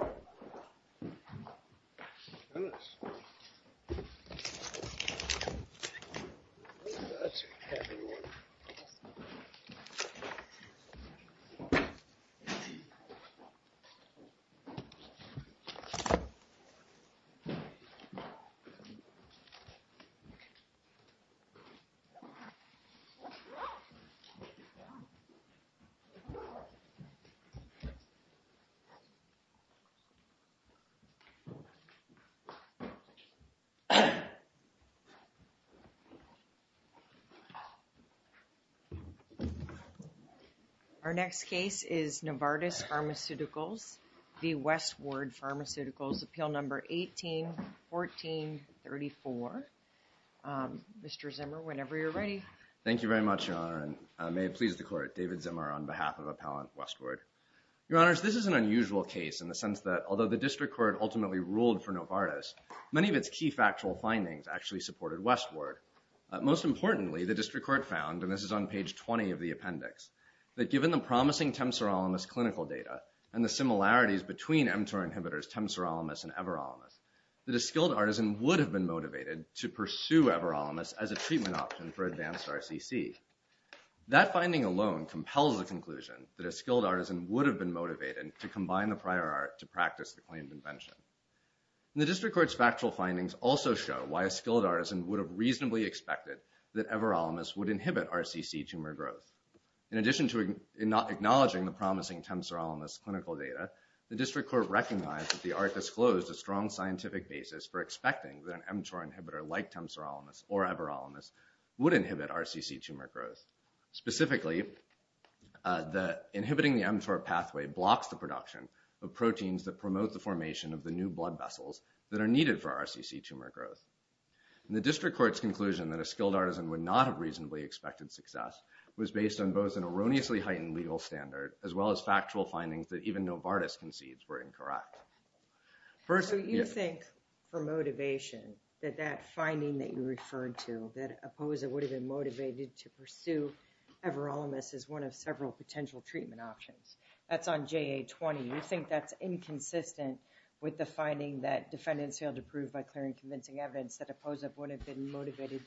West-Ward Pharmaceuticals Our next case is Novartis Pharmaceuticals v. West-Ward Pharmaceuticals, Appeal No. 18-14-34. Mr. Zimmer, whenever you're ready. Thank you very much, Your Honor, and may it please the Court, David Zimmer on behalf of Appellant Westward. Your Honors, this is an unusual case in the sense that, although the District Court ultimately ruled for Novartis, many of its key factual findings actually supported Westward. Most importantly, the District Court found, and this is on page 20 of the appendix, that given the promising temsorolimus clinical data and the similarities between mTOR inhibitors temsorolimus and everolimus, that a skilled artisan would have been motivated to pursue everolimus as a treatment option for advanced RCC. That finding alone compels the conclusion that a skilled artisan would have been motivated to combine the prior art to practice the claimed invention. The District Court's factual findings also show why a skilled artisan would have reasonably expected that everolimus would inhibit RCC tumor growth. In addition to acknowledging the promising temsorolimus clinical data, the District Court recognized that the art disclosed a strong scientific basis for expecting that an mTOR inhibitor like temsorolimus or everolimus would inhibit RCC tumor growth. Specifically, inhibiting the mTOR pathway blocks the production of proteins that promote the formation of the new blood vessels that are needed for RCC tumor growth. The District Court's conclusion that a skilled artisan would not have reasonably expected success was based on both an erroneously heightened legal standard as well as factual findings that even Novartis concedes were incorrect. First, so you think for motivation that that finding that you referred to, that APOSA would have been motivated to pursue everolimus as one of several potential treatment options. That's on JA-20. You think that's inconsistent with the finding that defendants failed to prove by clearing convincing evidence that APOSA would have been motivated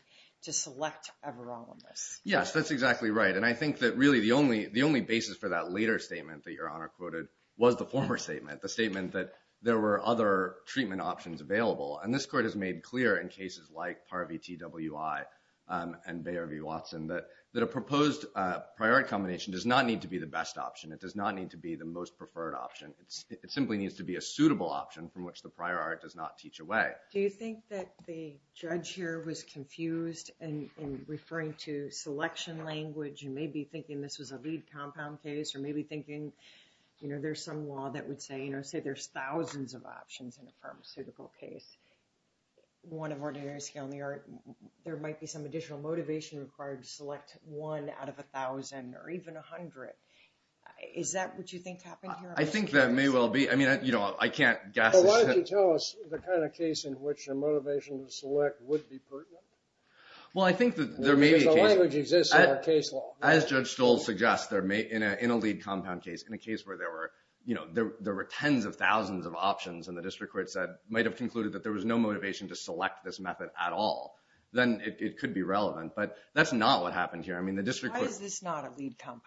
to select everolimus? Yes, that's exactly right. And I think that really the only basis for that later statement that Your Honor quoted was the former statement. The statement that there were other treatment options available. And this Court has made clear in cases like PAR VTWI and Bayer v. Watson that a proposed prior art combination does not need to be the best option. It does not need to be the most preferred option. It simply needs to be a suitable option from which the prior art does not teach away. Do you think that the judge here was confused in referring to selection language and maybe thinking this was a lead compound case or maybe thinking, you know, there's some law that would say, you know, say there's thousands of options in a pharmaceutical case. One of ordinary scale in the art, there might be some additional motivation required to select one out of a thousand or even a hundred. Is that what you think happened here? I think that may well be. I mean, you know, I can't guess. But why don't you tell us the kind of case in which the motivation to select would be pertinent? Well, I think that there may be a case... Because the language exists in our case law. As Judge Stoll suggests, in a lead compound case, in a case where there were, you know, there were tens of thousands of options and the district court said, might have concluded that there was no motivation to select this method at all, then it could be relevant. But that's not what happened here. I mean, the district court... Why is this not a lead compound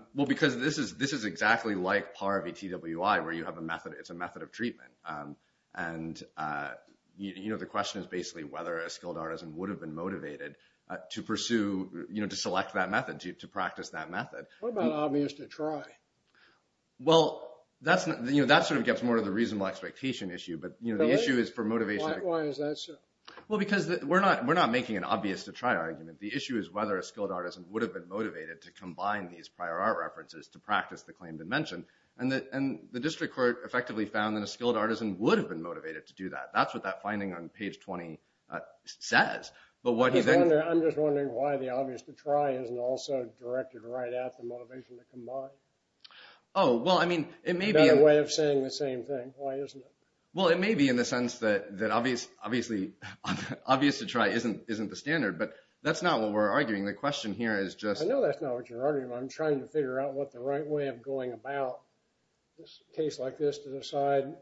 case? Well, because this is exactly like PAR VTWI, where you have a method. It's a method of treatment. And you know, the question is basically whether a skilled artisan would have been motivated to pursue, you know, to select that method, to practice that method. What about obvious to try? Well, that's, you know, that sort of gets more to the reasonable expectation issue. But you know, the issue is for motivation... Why is that so? Well, because we're not making an obvious to try argument. The issue is whether a skilled artisan would have been motivated to combine these prior art references to practice the claim to mention. And the district court effectively found that a skilled artisan would have been motivated to do that. That's what that finding on page 20 says. But what he then... I'm just wondering why the obvious to try isn't also directed right at the motivation to combine. Oh, well, I mean, it may be... It's got a way of saying the same thing. Why isn't it? Well, it may be in the sense that obvious to try isn't the standard, but that's not what we're arguing. The question here is just... I know that's not what you're arguing, but I'm trying to figure out what the right way of going about a case like this to decide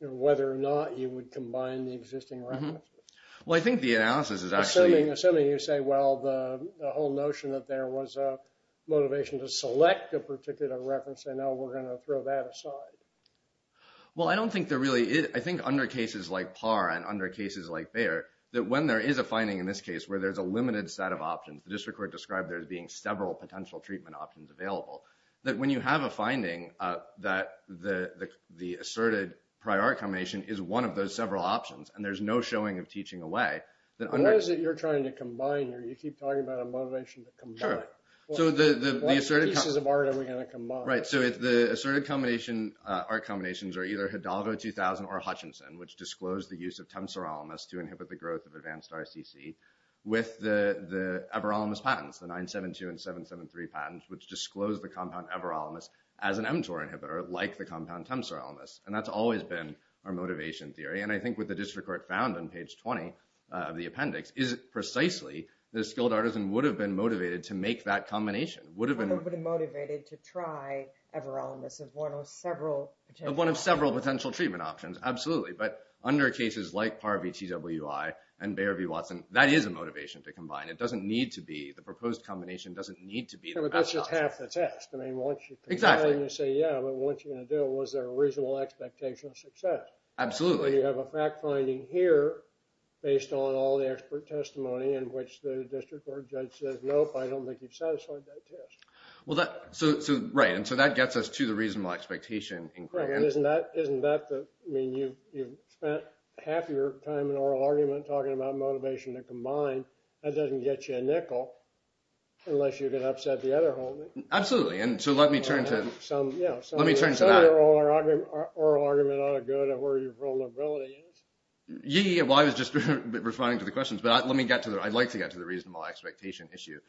whether or not you would combine the existing references. Well, I think the analysis is actually... Assuming you say, well, the whole notion that there was a motivation to select a particular reference, and now we're going to throw that aside. Well, I don't think there really is... I think under cases like Parr and under cases like Bayer, that when there is a finding in this case where there's a limited set of options, the district court described there as being several potential treatment options available, that when you have a finding that the asserted prior art combination is one of those several options, and there's no showing of teaching away, then... What is it you're trying to combine? You keep talking about a motivation to combine. Sure. So the asserted... What pieces of art are we going to combine? Right. So the asserted art combinations are either Hidalgo 2000 or Hutchinson, which disclosed the use of temsoralimus to inhibit the growth of advanced RCC, with the everolimus patents, the 972 and 773 patents, which disclosed the compound everolimus as an mTOR inhibitor, like the compound temsoralimus, and that's always been our motivation theory. And I think what the district court found on page 20 of the appendix is precisely that a skilled artisan would have been motivated to make that combination, would have been... Would have been motivated to try everolimus as one of several potential... One of several potential treatment options, absolutely. But under cases like Parvy-TWI and Bayer v. Watson, that is a motivation to combine. It doesn't need to be. The proposed combination doesn't need to be the best option. Sure, but that's just half the test. I mean, once you... Exactly. You say, yeah, but what you're going to do, was there a reasonable expectation of success? Absolutely. So you have a fact-finding here, based on all the expert testimony, in which the district court judge says, nope, I don't think you've satisfied that test. Well, that... So... Right. And so that gets us to the reasonable expectation in... Correct. And isn't that the... I mean, you've spent half your time in oral argument talking about motivation to combine. That doesn't get you a nickel, unless you can upset the other holdings. Absolutely. And so let me turn to... Some... Let me turn to that. You said oral argument ought to go to where your vulnerability is. Yeah, well, I was just responding to the questions, but let me get to the... I'd like to get to the reasonable expectation issue,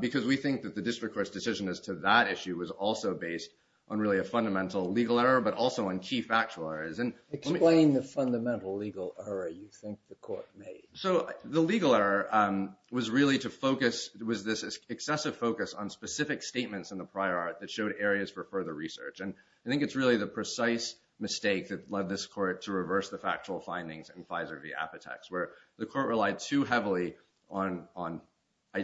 because we think that the district court's decision as to that issue was also based on, really, a fundamental legal error, but also on key factual errors. And let me... Explain the fundamental legal error you think the court made. So, the legal error was really to focus... was this excessive focus on specific statements in the prior art that showed areas for further research. And I think it's really the precise mistake that led this court to reverse the factual findings in Pfizer v. Apotex, where the court relied too heavily on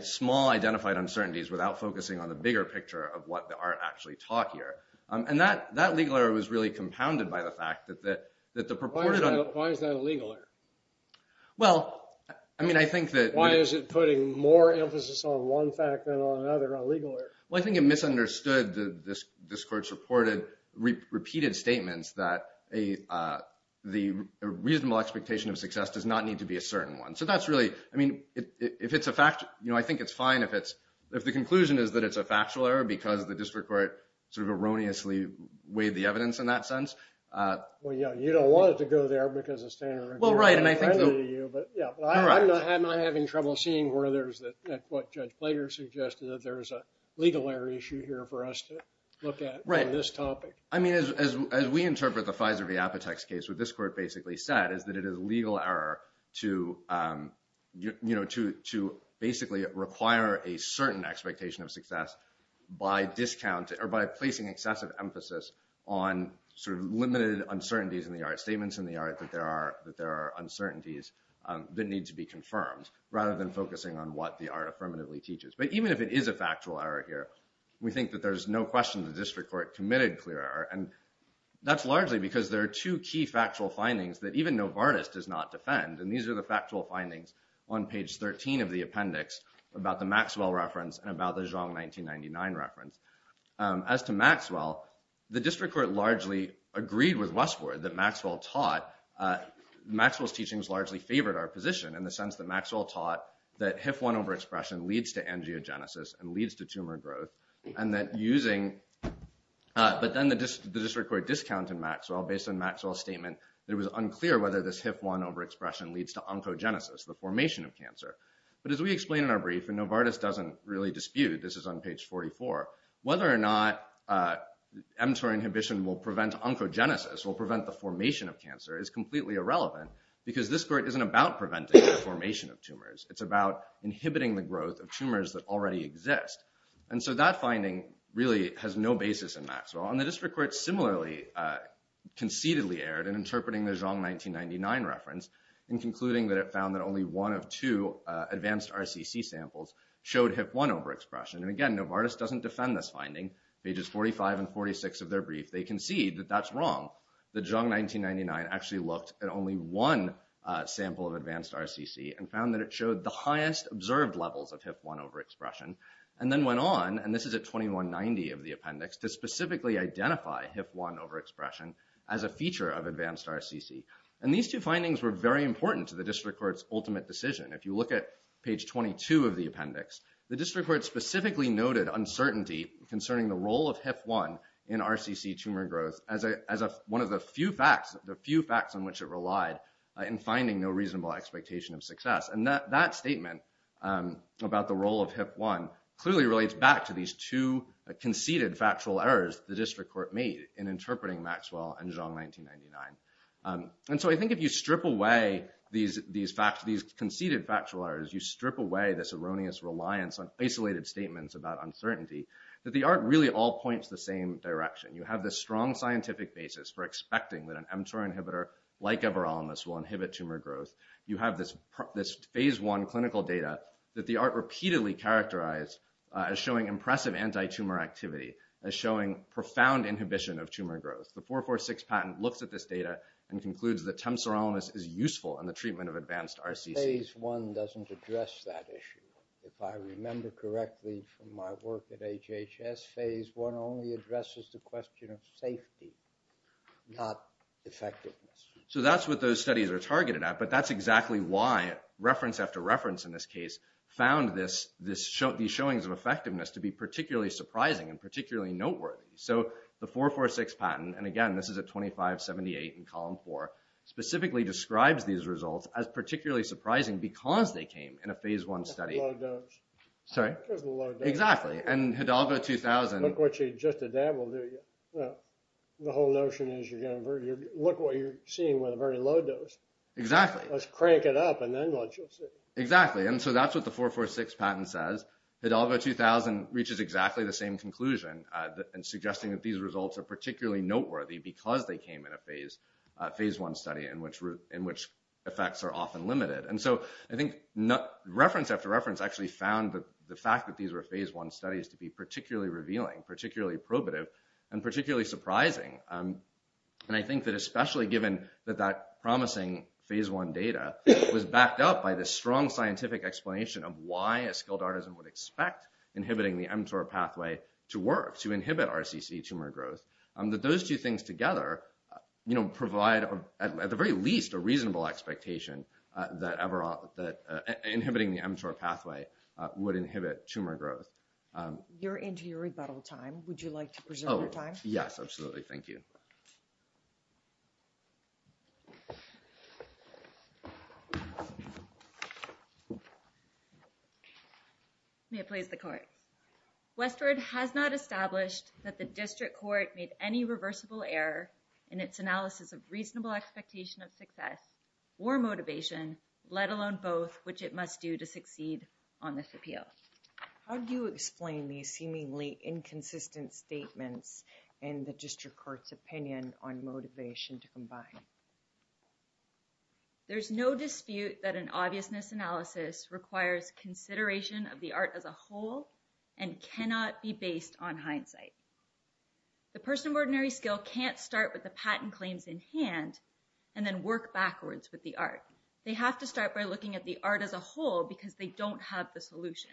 small, identified uncertainties without focusing on the bigger picture of what the art actually taught here. And that legal error was really compounded by the fact that the proportion... Why is that a legal error? Well, I mean, I think that... Why is it putting more emphasis on one fact than on another, a legal error? Well, I think it misunderstood... this court's reported... repeated statements that the reasonable expectation of success does not need to be a certain one. So, that's really... I mean, if it's a fact... you know, I think it's fine if it's... if the conclusion is that it's a factual error because the district court sort of erroneously weighed the evidence in that sense. Well, yeah, you don't want it to go there because the standard review... Well, right, and I think...... accredited you, but, yeah, I'm not having trouble seeing where there's... what Judge Plater suggested that there's a legal error issue here for us to look at...... on this topic. I mean, as we interpret the Fizer v. Apotex case, what this court basically said is that it is a legal error to, you know, to basically require a certain expectation of success by discounting... or by placing excessive emphasis on sort of limited uncertainties in the art, statements in the art that there are... that there are uncertainties that need to be confirmed rather than focusing on what the art affirmatively teaches. But even if it is a factual error here, we think that there's no question the district court committed clear error, and that's largely because there are two key factual findings that even Novartis does not defend, and these are the factual findings on page 13 of the appendix about the Maxwell reference and about the Zhang 1999 reference. As to Maxwell, the district court largely agreed with Westward that Maxwell taught... Maxwell's theory favored our position in the sense that Maxwell taught that HIF-1 overexpression leads to angiogenesis and leads to tumor growth, and that using... but then the district court discounted Maxwell based on Maxwell's statement that it was unclear whether this HIF-1 overexpression leads to oncogenesis, the formation of cancer. But as we explain in our brief, and Novartis doesn't really dispute, this is on page 44, whether or not mTOR inhibition will prevent oncogenesis, will prevent the formation of It's not even about preventing the formation of tumors. It's about inhibiting the growth of tumors that already exist. And so that finding really has no basis in Maxwell, and the district court similarly concededly erred in interpreting the Zhang 1999 reference in concluding that it found that only one of two advanced RCC samples showed HIF-1 overexpression. And again, Novartis doesn't defend this finding. Pages 45 and 46 of their brief, they concede that that's wrong, that Zhang 1999 actually looked at only one sample of advanced RCC and found that it showed the highest observed levels of HIF-1 overexpression, and then went on, and this is at 2190 of the appendix, to specifically identify HIF-1 overexpression as a feature of advanced RCC. And these two findings were very important to the district court's ultimate decision. If you look at page 22 of the appendix, the district court specifically noted uncertainty concerning the role of HIF-1 in RCC tumor growth as one of the few facts, the few facts on which it relied in finding no reasonable expectation of success. And that statement about the role of HIF-1 clearly relates back to these two conceded factual errors the district court made in interpreting Maxwell and Zhang 1999. And so I think if you strip away these conceded factual errors, you strip away this erroneous reliance on isolated statements about uncertainty, that the ART really all points the same direction. You have this strong scientific basis for expecting that an mTOR inhibitor like everolimus will inhibit tumor growth. You have this phase one clinical data that the ART repeatedly characterized as showing impressive antitumor activity, as showing profound inhibition of tumor growth. The 446 patent looks at this data and concludes that temsorolimus is useful in the treatment of advanced RCC. But phase one doesn't address that issue. If I remember correctly from my work at HHS, phase one only addresses the question of safety, not effectiveness. So that's what those studies are targeted at. But that's exactly why reference after reference in this case found these showings of effectiveness to be particularly surprising and particularly noteworthy. So the 446 patent, and again, this is at 2578 in column four, specifically describes these as being surprising because they came in a phase one study. Because of the low dose. Sorry? Because of the low dose. Exactly. And Hidalgo 2000. Look what you just did. That will do you. The whole notion is, look what you're seeing with a very low dose. Exactly. Let's crank it up and then let you see. Exactly. And so that's what the 446 patent says. Hidalgo 2000 reaches exactly the same conclusion in suggesting that these results are particularly noteworthy because they came in a phase one study in which effects are often limited. And so I think reference after reference actually found the fact that these were phase one studies to be particularly revealing, particularly probative, and particularly surprising. And I think that especially given that that promising phase one data was backed up by the strong scientific explanation of why a skilled artisan would expect inhibiting the MRCC tumor growth, that those two things together provide at the very least a reasonable expectation that inhibiting the mTOR pathway would inhibit tumor growth. You're into your rebuttal time. Would you like to preserve your time? Yes, absolutely. Thank you. May it please the court. Westward has not established that the district court made any reversible error in its analysis of reasonable expectation of success or motivation, let alone both, which it must do to succeed on this appeal. How do you explain these seemingly inconsistent statements in the district court's opinion on motivation to combine? There's no dispute that an obviousness analysis requires consideration of the art as a whole and cannot be based on hindsight. The person of ordinary skill can't start with the patent claims in hand and then work backwards with the art. They have to start by looking at the art as a whole because they don't have the solution.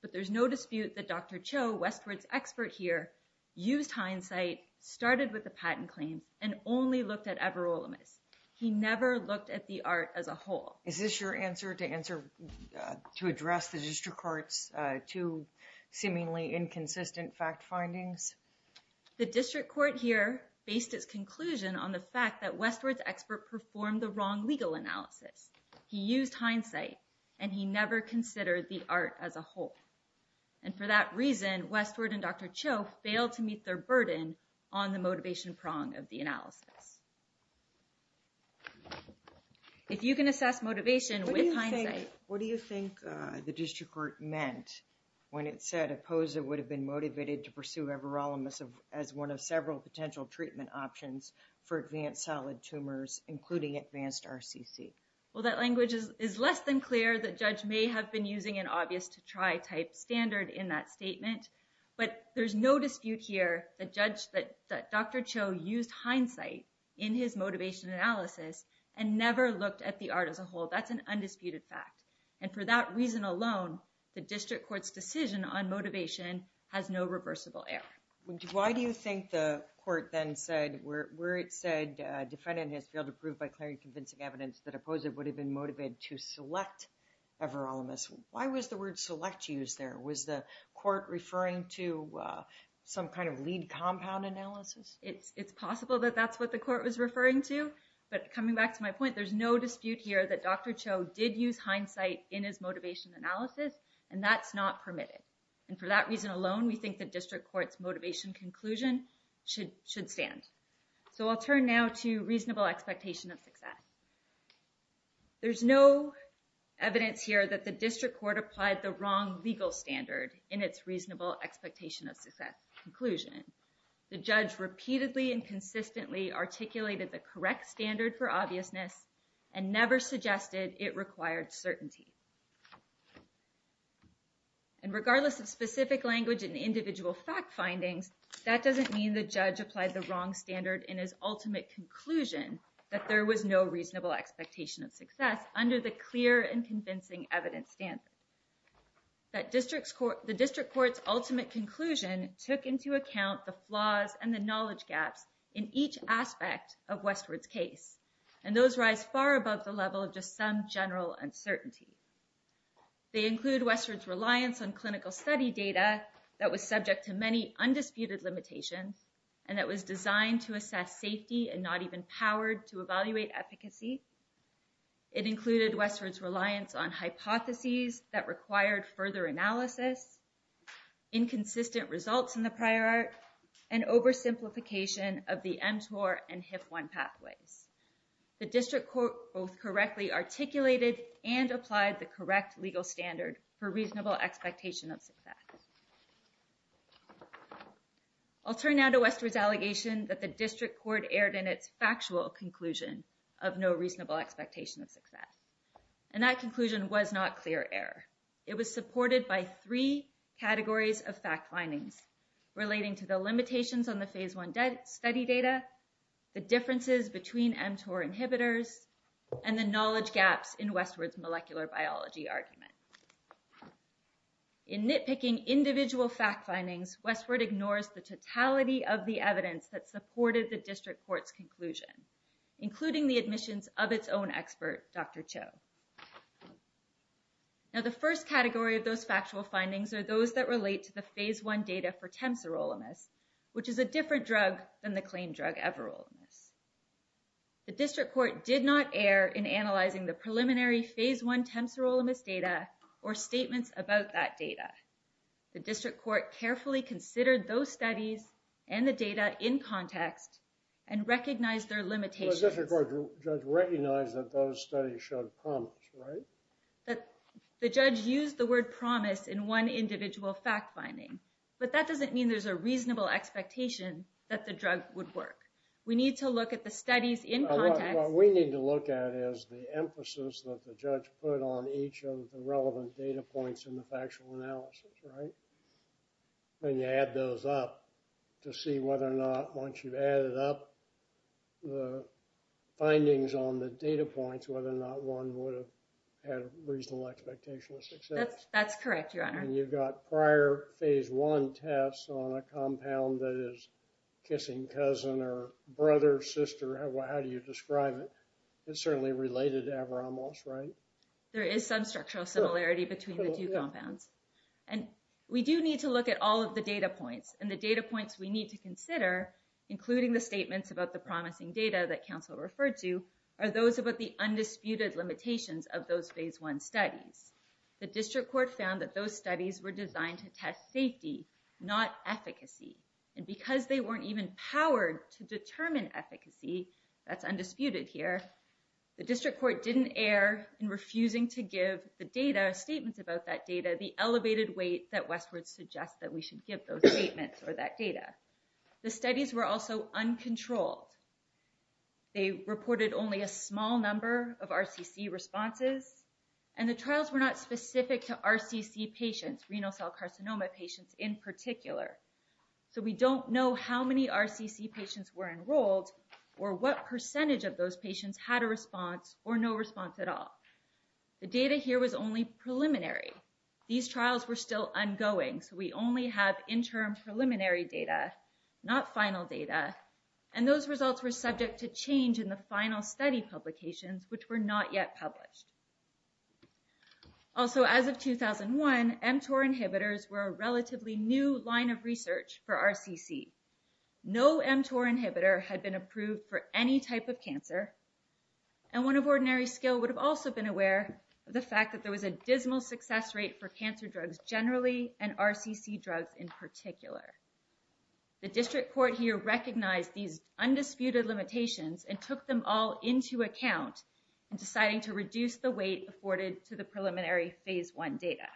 But there's no dispute that Dr. Cho, Westward's expert here, used hindsight, started with the patent claim and only looked at Everolimus. He never looked at the art as a whole. Is this your answer to address the district court's two seemingly inconsistent fact findings? The district court here based its conclusion on the fact that Westward's expert performed the wrong legal analysis. He used hindsight and he never considered the art as a whole. And for that reason, Westward and Dr. Cho failed to meet their burden on the motivation prong of the analysis. If you can assess motivation with hindsight. What do you think the district court meant when it said Opposa would have been motivated to pursue Everolimus as one of several potential treatment options for advanced solid tumors, including advanced RCC? Well, that language is less than clear that judge may have been using an obvious to try type standard in that statement. But there's no dispute here that Dr. Cho used hindsight in his motivation analysis and never looked at the art as a whole. That's an undisputed fact. And for that reason alone, the district court's decision on motivation has no reversible error. Why do you think the court then said where it said defendant has failed to prove by clarifying and convincing evidence that Opposa would have been motivated to select Everolimus? Why was the word select used there? Was the court referring to some kind of lead compound analysis? It's possible that that's what the court was referring to. But coming back to my point, there's no dispute here that Dr. Cho did use hindsight in his motivation analysis and that's not permitted. And for that reason alone, we think the district court's motivation conclusion should stand. So I'll turn now to reasonable expectation of success. There's no evidence here that the district court applied the wrong legal standard in its reasonable expectation of success conclusion. The judge repeatedly and consistently articulated the correct standard for obviousness and never suggested it required certainty. And regardless of specific language and individual fact findings, that doesn't mean the judge applied the wrong standard in his ultimate conclusion that there was no reasonable expectation of success under the clear and convincing evidence standard. The district court's ultimate conclusion took into account the flaws and the knowledge gaps in each aspect of Westward's case. And those rise far above the level of just some general uncertainty. They include Westward's reliance on clinical study data that was subject to many undisputed limitations and that was designed to assess safety and not even powered to evaluate efficacy. It included Westward's reliance on hypotheses that required further analysis, inconsistent results in the prior art, and oversimplification of the mTOR and HIP-1 pathways. The district court both correctly articulated and applied the correct legal standard for I'll turn now to Westward's allegation that the district court erred in its factual conclusion of no reasonable expectation of success. And that conclusion was not clear error. It was supported by three categories of fact findings relating to the limitations on the phase one study data, the differences between mTOR inhibitors, and the knowledge gaps in Westward's molecular biology argument. In nitpicking individual fact findings, Westward ignores the totality of the evidence that supported the district court's conclusion, including the admissions of its own expert, Dr. Cho. Now the first category of those factual findings are those that relate to the phase one data for temsorolimus, which is a different drug than the claimed drug everolimus. The district court did not err in analyzing the preliminary phase one temsorolimus data or statements about that data. The district court carefully considered those studies and the data in context and recognized their limitations. The district court judge recognized that those studies showed promise, right? The judge used the word promise in one individual fact finding, but that doesn't mean there's a reasonable expectation that the drug would work. We need to look at the studies in context. What we need to look at is the emphasis that the judge put on each of the relevant data points in the factual analysis, right? And you add those up to see whether or not, once you've added up the findings on the data points, whether or not one would have had a reasonable expectation of success. That's correct, Your Honor. And you've got prior phase one tests on a compound that is kissing cousin or brother, sister. How do you describe it? It's certainly related to Avramos, right? There is some structural similarity between the two compounds. And we do need to look at all of the data points. And the data points we need to consider, including the statements about the promising data that counsel referred to, are those about the undisputed limitations of those phase one studies. The district court found that those studies were designed to test safety, not efficacy. And because they weren't even powered to determine efficacy, that's undisputed here, the district court didn't err in refusing to give the data, statements about that data, the elevated weight that Westward suggests that we should give those statements or that data. The studies were also uncontrolled. They reported only a small number of RCC responses. And the trials were not specific to RCC patients, renal cell carcinoma patients in particular. So we don't know how many RCC patients were enrolled or what percentage of those patients had a response or no response at all. The data here was only preliminary. These trials were still ongoing. So we only have interim preliminary data, not final data. And those results were subject to change in the final study publications, which were not yet published. Also, as of 2001, mTOR inhibitors were a relatively new line of research for RCC. No mTOR inhibitor had been approved for any type of cancer. And one of ordinary skill would have also been aware of the fact that there was a dismal success rate for cancer drugs generally and RCC drugs in particular. The district court here recognized these undisputed limitations and took them all into account in deciding to reduce the weight afforded to the preliminary phase one data.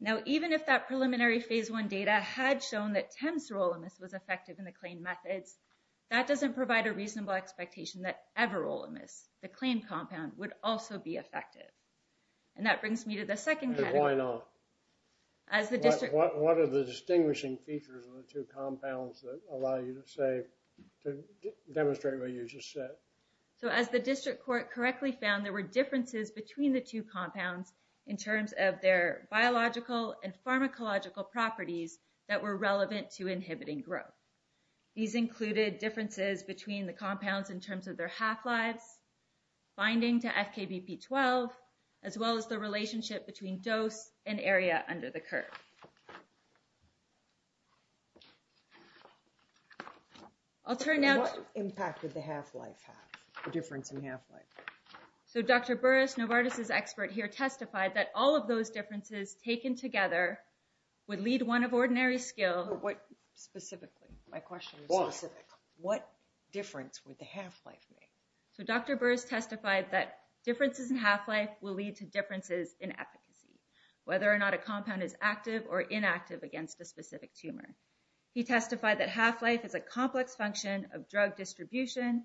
Now, even if that preliminary phase one data had shown that temsorolimus was effective in the claim methods, that doesn't provide a reasonable expectation that everolimus, the claim compound, would also be effective. And that brings me to the second category. Why not? What are the distinguishing features of the two compounds that allow you to say, to demonstrate what you just said? So as the district court correctly found, there were differences between the two compounds in terms of their biological and pharmacological properties that were relevant to inhibiting growth. These included differences between the compounds in terms of their half-lives, binding to FKBP12, as well as the relationship between dose and area under the curve. I'll turn now to... What impact would the half-life have, the difference in half-life? So Dr. Burris, Novartis' expert here, testified that all of those differences taken together would lead one of ordinary skill... Specifically, my question is specific. What difference would the half-life make? So Dr. Burris testified that differences in half-life will lead to differences in efficacy, whether or not a compound is active or inactive against a specific tumor. He testified that half-life is a complex function of drug distribution,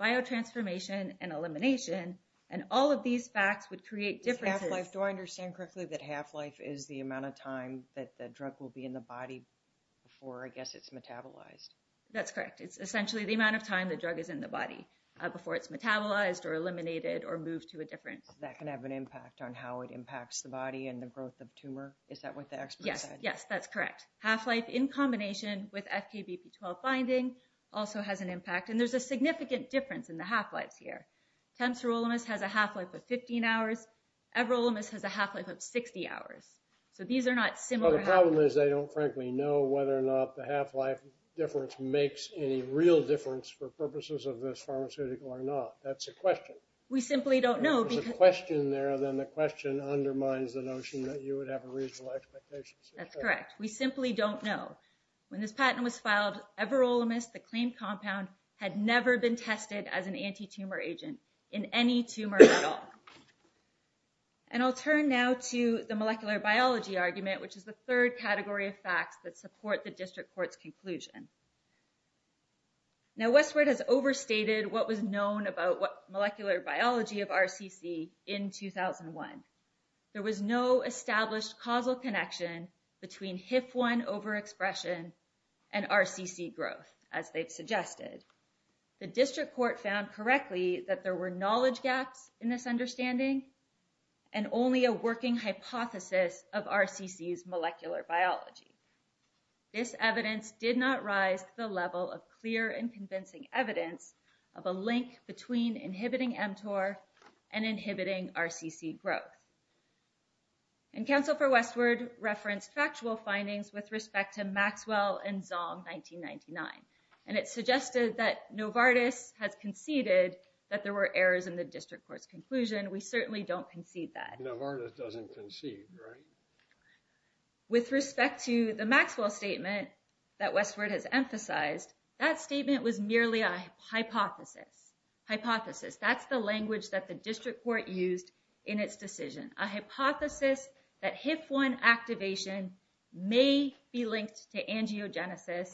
biotransformation, and elimination, and all of these facts would create differences... Half-life. Do I understand correctly that half-life is the amount of time that the drug will be in the body before, I guess, it's metabolized? That's correct. It's essentially the amount of time the drug is in the body before it's metabolized or eliminated or moved to a different... That can have an impact on how it impacts the body and the growth of the tumor? Is that what the expert said? Yes. Yes, that's correct. Half-life, in combination with FKBP12 binding, also has an impact. And there's a significant difference in the half-lives here. Tempsorolimus has a half-life of 15 hours. Everolimus has a half-life of 60 hours. So these are not similar... Well, the problem is they don't, frankly, know whether or not the half-life difference makes any real difference for purposes of this pharmaceutical or not. That's a question. We simply don't know because... If there's a question there, then the question undermines the notion that you would have a reasonable expectation. That's correct. We simply don't know. When this patent was filed, Everolimus, the claimed compound, had never been tested as an anti-tumor agent in any tumor at all. And I'll turn now to the molecular biology argument, which is the third category of facts that support the district court's conclusion. Now, Westward has overstated what was known about molecular biology of RCC in 2001. There was no established causal connection between HIF-1 overexpression and RCC growth, as they've suggested. The district court found correctly that there were knowledge gaps in this understanding and only a working hypothesis of RCC's molecular biology. This evidence did not rise to the level of clear and convincing evidence of a link between inhibiting mTOR and inhibiting RCC growth. And counsel for Westward referenced factual findings with respect to Maxwell and Zong 1999, and it suggested that Novartis has conceded that there were errors in the district court's conclusion. We certainly don't concede that. Novartis doesn't concede, right? With respect to the Maxwell statement that Westward has emphasized, that statement was merely a hypothesis. Hypothesis. That's the language that the district court used in its decision. A hypothesis that HIF-1 activation may be linked to angiogenesis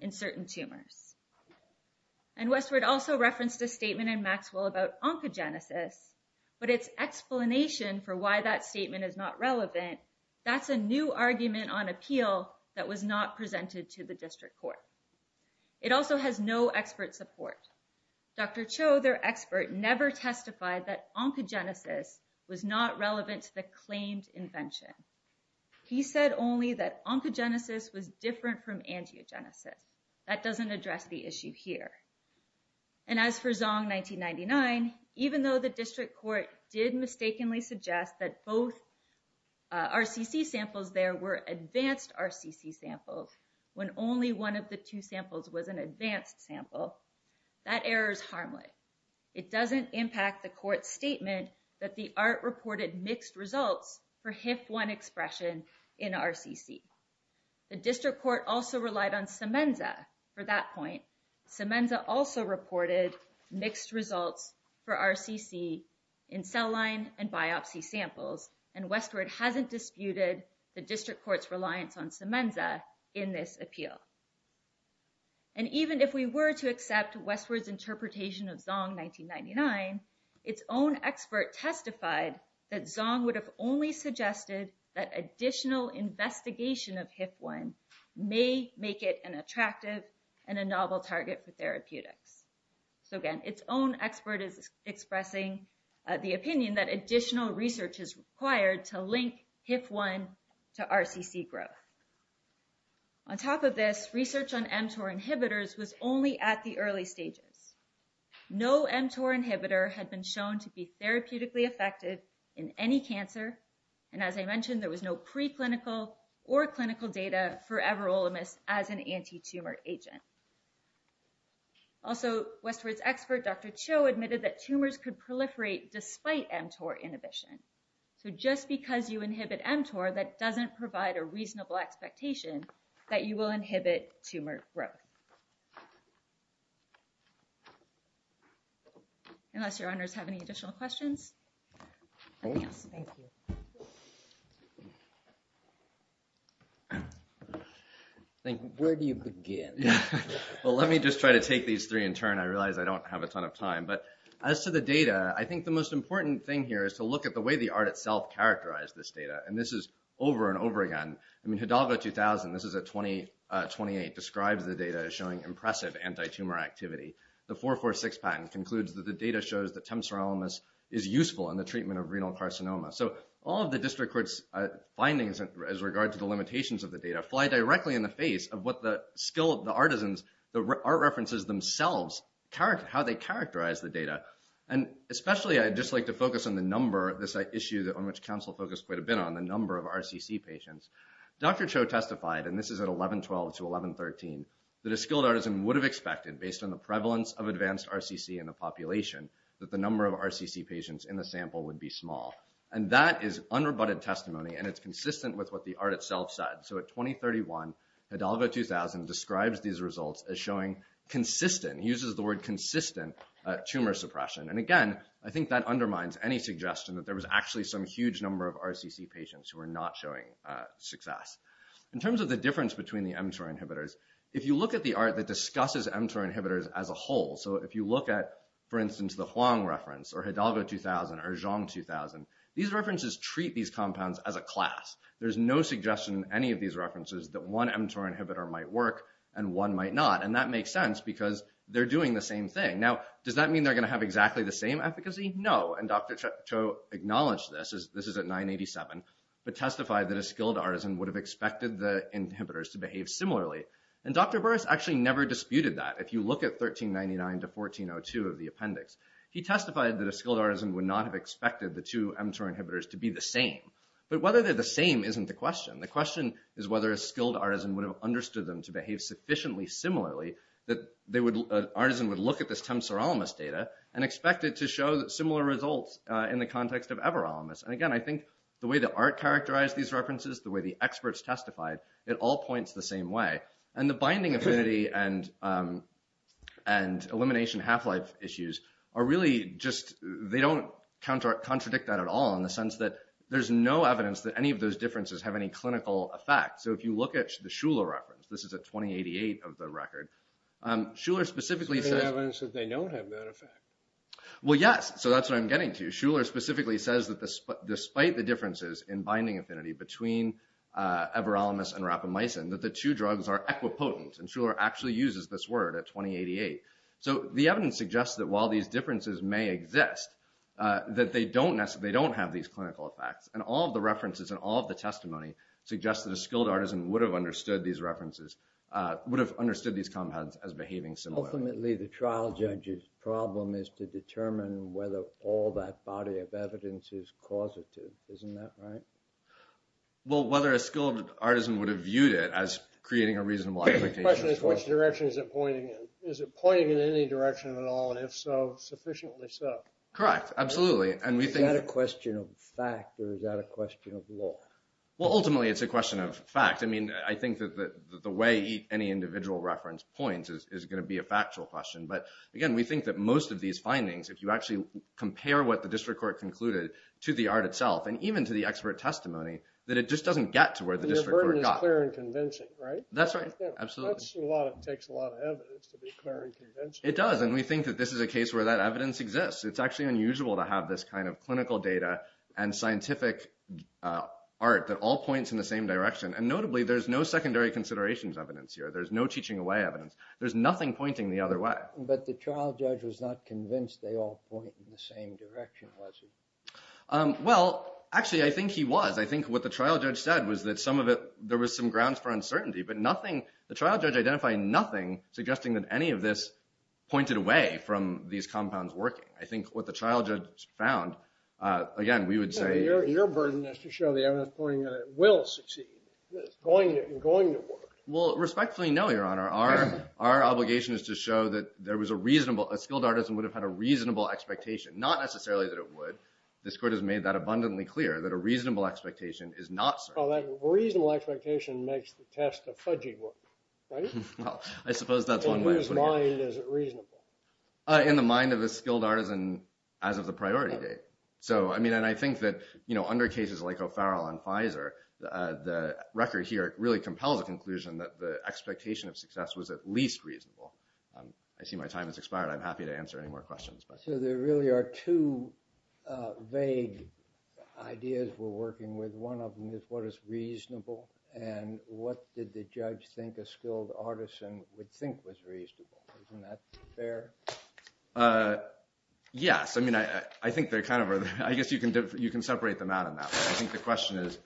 in certain tumors. And Westward also referenced a statement in Maxwell about oncogenesis, but its explanation for why that statement is not relevant, that's a new argument on appeal that was not presented to the district court. It also has no expert support. Dr. Cho, their expert, never testified that oncogenesis was not relevant to the claimed invention. He said only that oncogenesis was different from angiogenesis. That doesn't address the issue here. And as for Zong 1999, even though the district court did mistakenly suggest that both RCC samples there were advanced RCC samples, when only one of the two samples was an advanced sample, that error is harmless. It doesn't impact the court's statement that the ART reported mixed results for HIF-1 expression in RCC. The district court also relied on Symenza for that point. Symenza also reported mixed results for RCC in cell line and biopsy samples. And Westward hasn't disputed the district court's reliance on Symenza in this appeal. And even if we were to accept Westward's interpretation of Zong 1999, its own expert testified that Zong would have only suggested that additional investigation of HIF-1 may make it an attractive and a novel target for therapeutics. So, again, its own expert is expressing the opinion that additional research is required to link HIF-1 to RCC growth. On top of this, research on mTOR inhibitors was only at the early stages. No mTOR inhibitor had been shown to be therapeutically effective in any cancer. And as I mentioned, there was no preclinical or clinical data for Everolimus as an antitumor agent. Also, Westward's expert, Dr. Cho, admitted that tumors could proliferate despite mTOR inhibition. So just because you inhibit mTOR, that doesn't provide a reasonable expectation that you will inhibit tumor growth. Unless your honors have any additional questions? Anything else? Thank you. Where do you begin? Well, let me just try to take these three in turn. I realize I don't have a ton of time. But as to the data, I think the most important thing here is to look at the way the art itself characterized this data. And this is over and over again. I mean, Hidalgo 2000, this is a 2028, describes the data as showing impressive antitumor activity. The 446 patent concludes that the data shows that temsorolimus is useful in the treatment of renal carcinoma. So all of the district court's findings as regards to the limitations of the data fly directly in the face of what the skill of the artisans, the art references themselves, how they characterize the data. And especially, I'd just like to focus on the number of this issue on which counsel focused quite a bit on, the number of RCC patients. Dr. Cho testified, and this is at 1112 to 1113, that a skilled artisan would have expected based on the prevalence of advanced RCC in the population that the number of RCC patients in the sample would be small. And that is unrebutted testimony, and it's consistent with what the art itself said. So at 2031, Hidalgo 2000 describes these results as showing consistent, uses the word consistent tumor suppression. And again, I think that undermines any suggestion that there was actually some huge number of RCC patients who were not showing success. In terms of the difference between the mTOR inhibitors, if you look at the art that discusses mTOR inhibitors as a whole, so if you look at, for instance, the Huang reference or Hidalgo 2000 or Zhong 2000, these references treat these compounds as a class. There's no suggestion in any of these references that one mTOR inhibitor might work and one might not. And that makes sense because they're doing the same thing. Now, does that mean they're going to have exactly the same efficacy? No. And Dr. Cho acknowledged this. This is at 987, but testified that a skilled artisan would have expected the inhibitors to behave similarly. And Dr. Burris actually never disputed that. If you look at 1399 to 1402 of the appendix, he testified that a skilled artisan would not have expected the two mTOR inhibitors to be the same. But whether they're the same isn't the question. The question is whether a skilled artisan would have understood them to behave sufficiently similarly that an artisan would look at this temsorolimus data and expect it to show similar results in the context of everolimus. And again, I think the way the art characterized these references, the way the experts testified, it all points the same way. And the binding affinity and elimination half-life issues are really just—they don't contradict that at all in the sense that there's no evidence that any of those differences have any clinical effect. So if you look at the Shuler reference—this is at 2088 of the record—Shuler specifically says— There's no evidence that they don't have that effect. Well, yes. So that's what I'm getting to. Shuler specifically says that despite the differences in binding affinity between everolimus and rapamycin, that the two drugs are equipotent. And Shuler actually uses this word at 2088. So the evidence suggests that while these differences may exist, that they don't have these clinical effects. And all of the references and all of the testimony suggest that a skilled artisan would have understood these references—would have understood these compounds as behaving similarly. Ultimately, the trial judge's problem is to determine whether all that body of evidence is causative. Isn't that right? Well, whether a skilled artisan would have viewed it as creating a reasonable application. The question is, which direction is it pointing in? Is it pointing in any direction at all? And if so, sufficiently so? Correct. Absolutely. And we think— Is that a question of fact or is that a question of law? Well, ultimately, it's a question of fact. I mean, I think that the way any individual reference points is going to be a factual question. But again, we think that most of these findings, if you actually compare what the district court concluded to the art itself, and even to the expert testimony, that it just doesn't get to where the district court got. The burden is clear and convincing, right? That's right. Absolutely. That's a lot. It takes a lot of evidence to be clear and convincing. It does. And we think that this is a case where that evidence exists. It's actually unusual to have this kind of clinical data and scientific art that all points in the same direction. And notably, there's no secondary considerations evidence here. There's no teaching away evidence. There's nothing pointing the other way. But the trial judge was not convinced they all point in the same direction, was he? Well, actually, I think he was. I think what the trial judge said was that some of it, there was some grounds for uncertainty. But nothing, the trial judge identified nothing suggesting that any of this pointed away from these compounds working. I think what the trial judge found, again, we would say- Your burden is to show the evidence pointing at it will succeed. It's going to work. Well, respectfully, no, Your Honor. Our obligation is to show that a skilled artisan would have had a reasonable expectation. Not necessarily that it would. This court has made that abundantly clear that a reasonable expectation is not certain. Well, that reasonable expectation makes the test a fudgy one, right? Well, I suppose that's one way of putting it. In whose mind is it reasonable? In the mind of a skilled artisan as of the priority date. And I think that under cases like O'Farrell on Pfizer, the record here really compels a conclusion that the expectation of success was at least reasonable. I see my time has expired. I'm happy to answer any more questions. So there really are two vague ideas we're working with. One of them is what is reasonable. And what did the judge think a skilled artisan would think was reasonable? Isn't that fair? Yes. I mean, I think they're kind of- I guess you can separate them out on that one. I think the question is,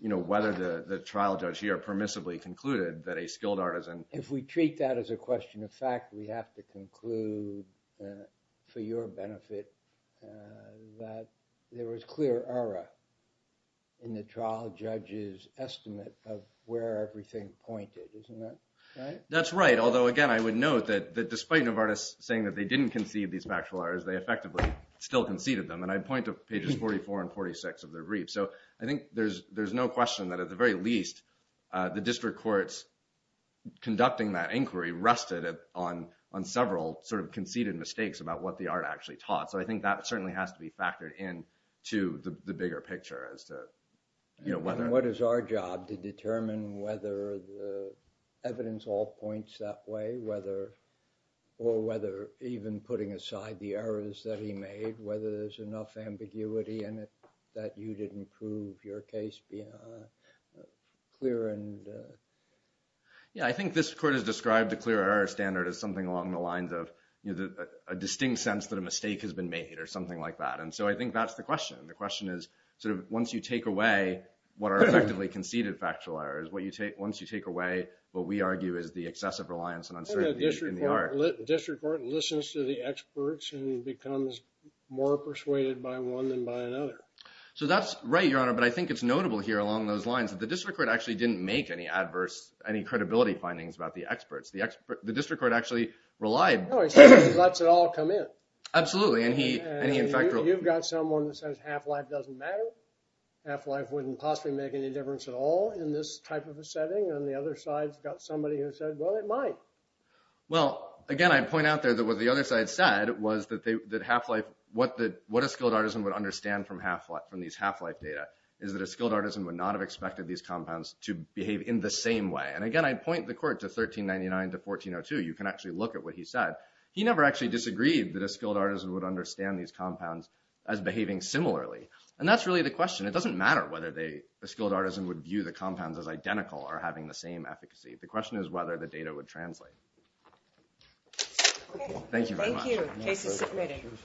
you know, whether the trial judge here permissibly concluded that a skilled artisan- If we treat that as a question of fact, we have to conclude for your benefit that there was clear error in the trial judge's estimate of where everything pointed. Isn't that right? That's right. Although, again, I would note that despite Novartis saying that they didn't concede these factual errors, they effectively still conceded them. And I point to pages 44 and 46 of the brief. So I think there's no question that at the very least, the district court's conducting that inquiry rested on several sort of conceded mistakes about what the art actually taught. So I think that certainly has to be factored in to the bigger picture as to, you know, whether- And what is our job? To determine whether the evidence all points that way, or whether even putting aside the case beyond a clear and- Yeah. I think this court has described a clear error standard as something along the lines of, you know, a distinct sense that a mistake has been made or something like that. And so I think that's the question. The question is, sort of, once you take away what are effectively conceded factual errors, once you take away what we argue is the excessive reliance on uncertainty in the art- The district court listens to the experts and becomes more persuaded by one than by another. So that's right, Your Honor. But I think it's notable here along those lines that the district court actually didn't make any adverse, any credibility findings about the experts. The district court actually relied- No, it just lets it all come in. Absolutely. And he, in fact- You've got someone that says half-life doesn't matter. Half-life wouldn't possibly make any difference at all in this type of a setting. And the other side's got somebody who said, well, it might. Well, again, I point out there that what the other side said was that half-life, what a skilled artisan would understand from these half-life data is that a skilled artisan would not have expected these compounds to behave in the same way. And again, I point the court to 1399 to 1402. You can actually look at what he said. He never actually disagreed that a skilled artisan would understand these compounds as behaving similarly. And that's really the question. It doesn't matter whether a skilled artisan would view the compounds as identical or having the same efficacy. The question is whether the data would translate. Thank you very much. Thank you. Case is submitted.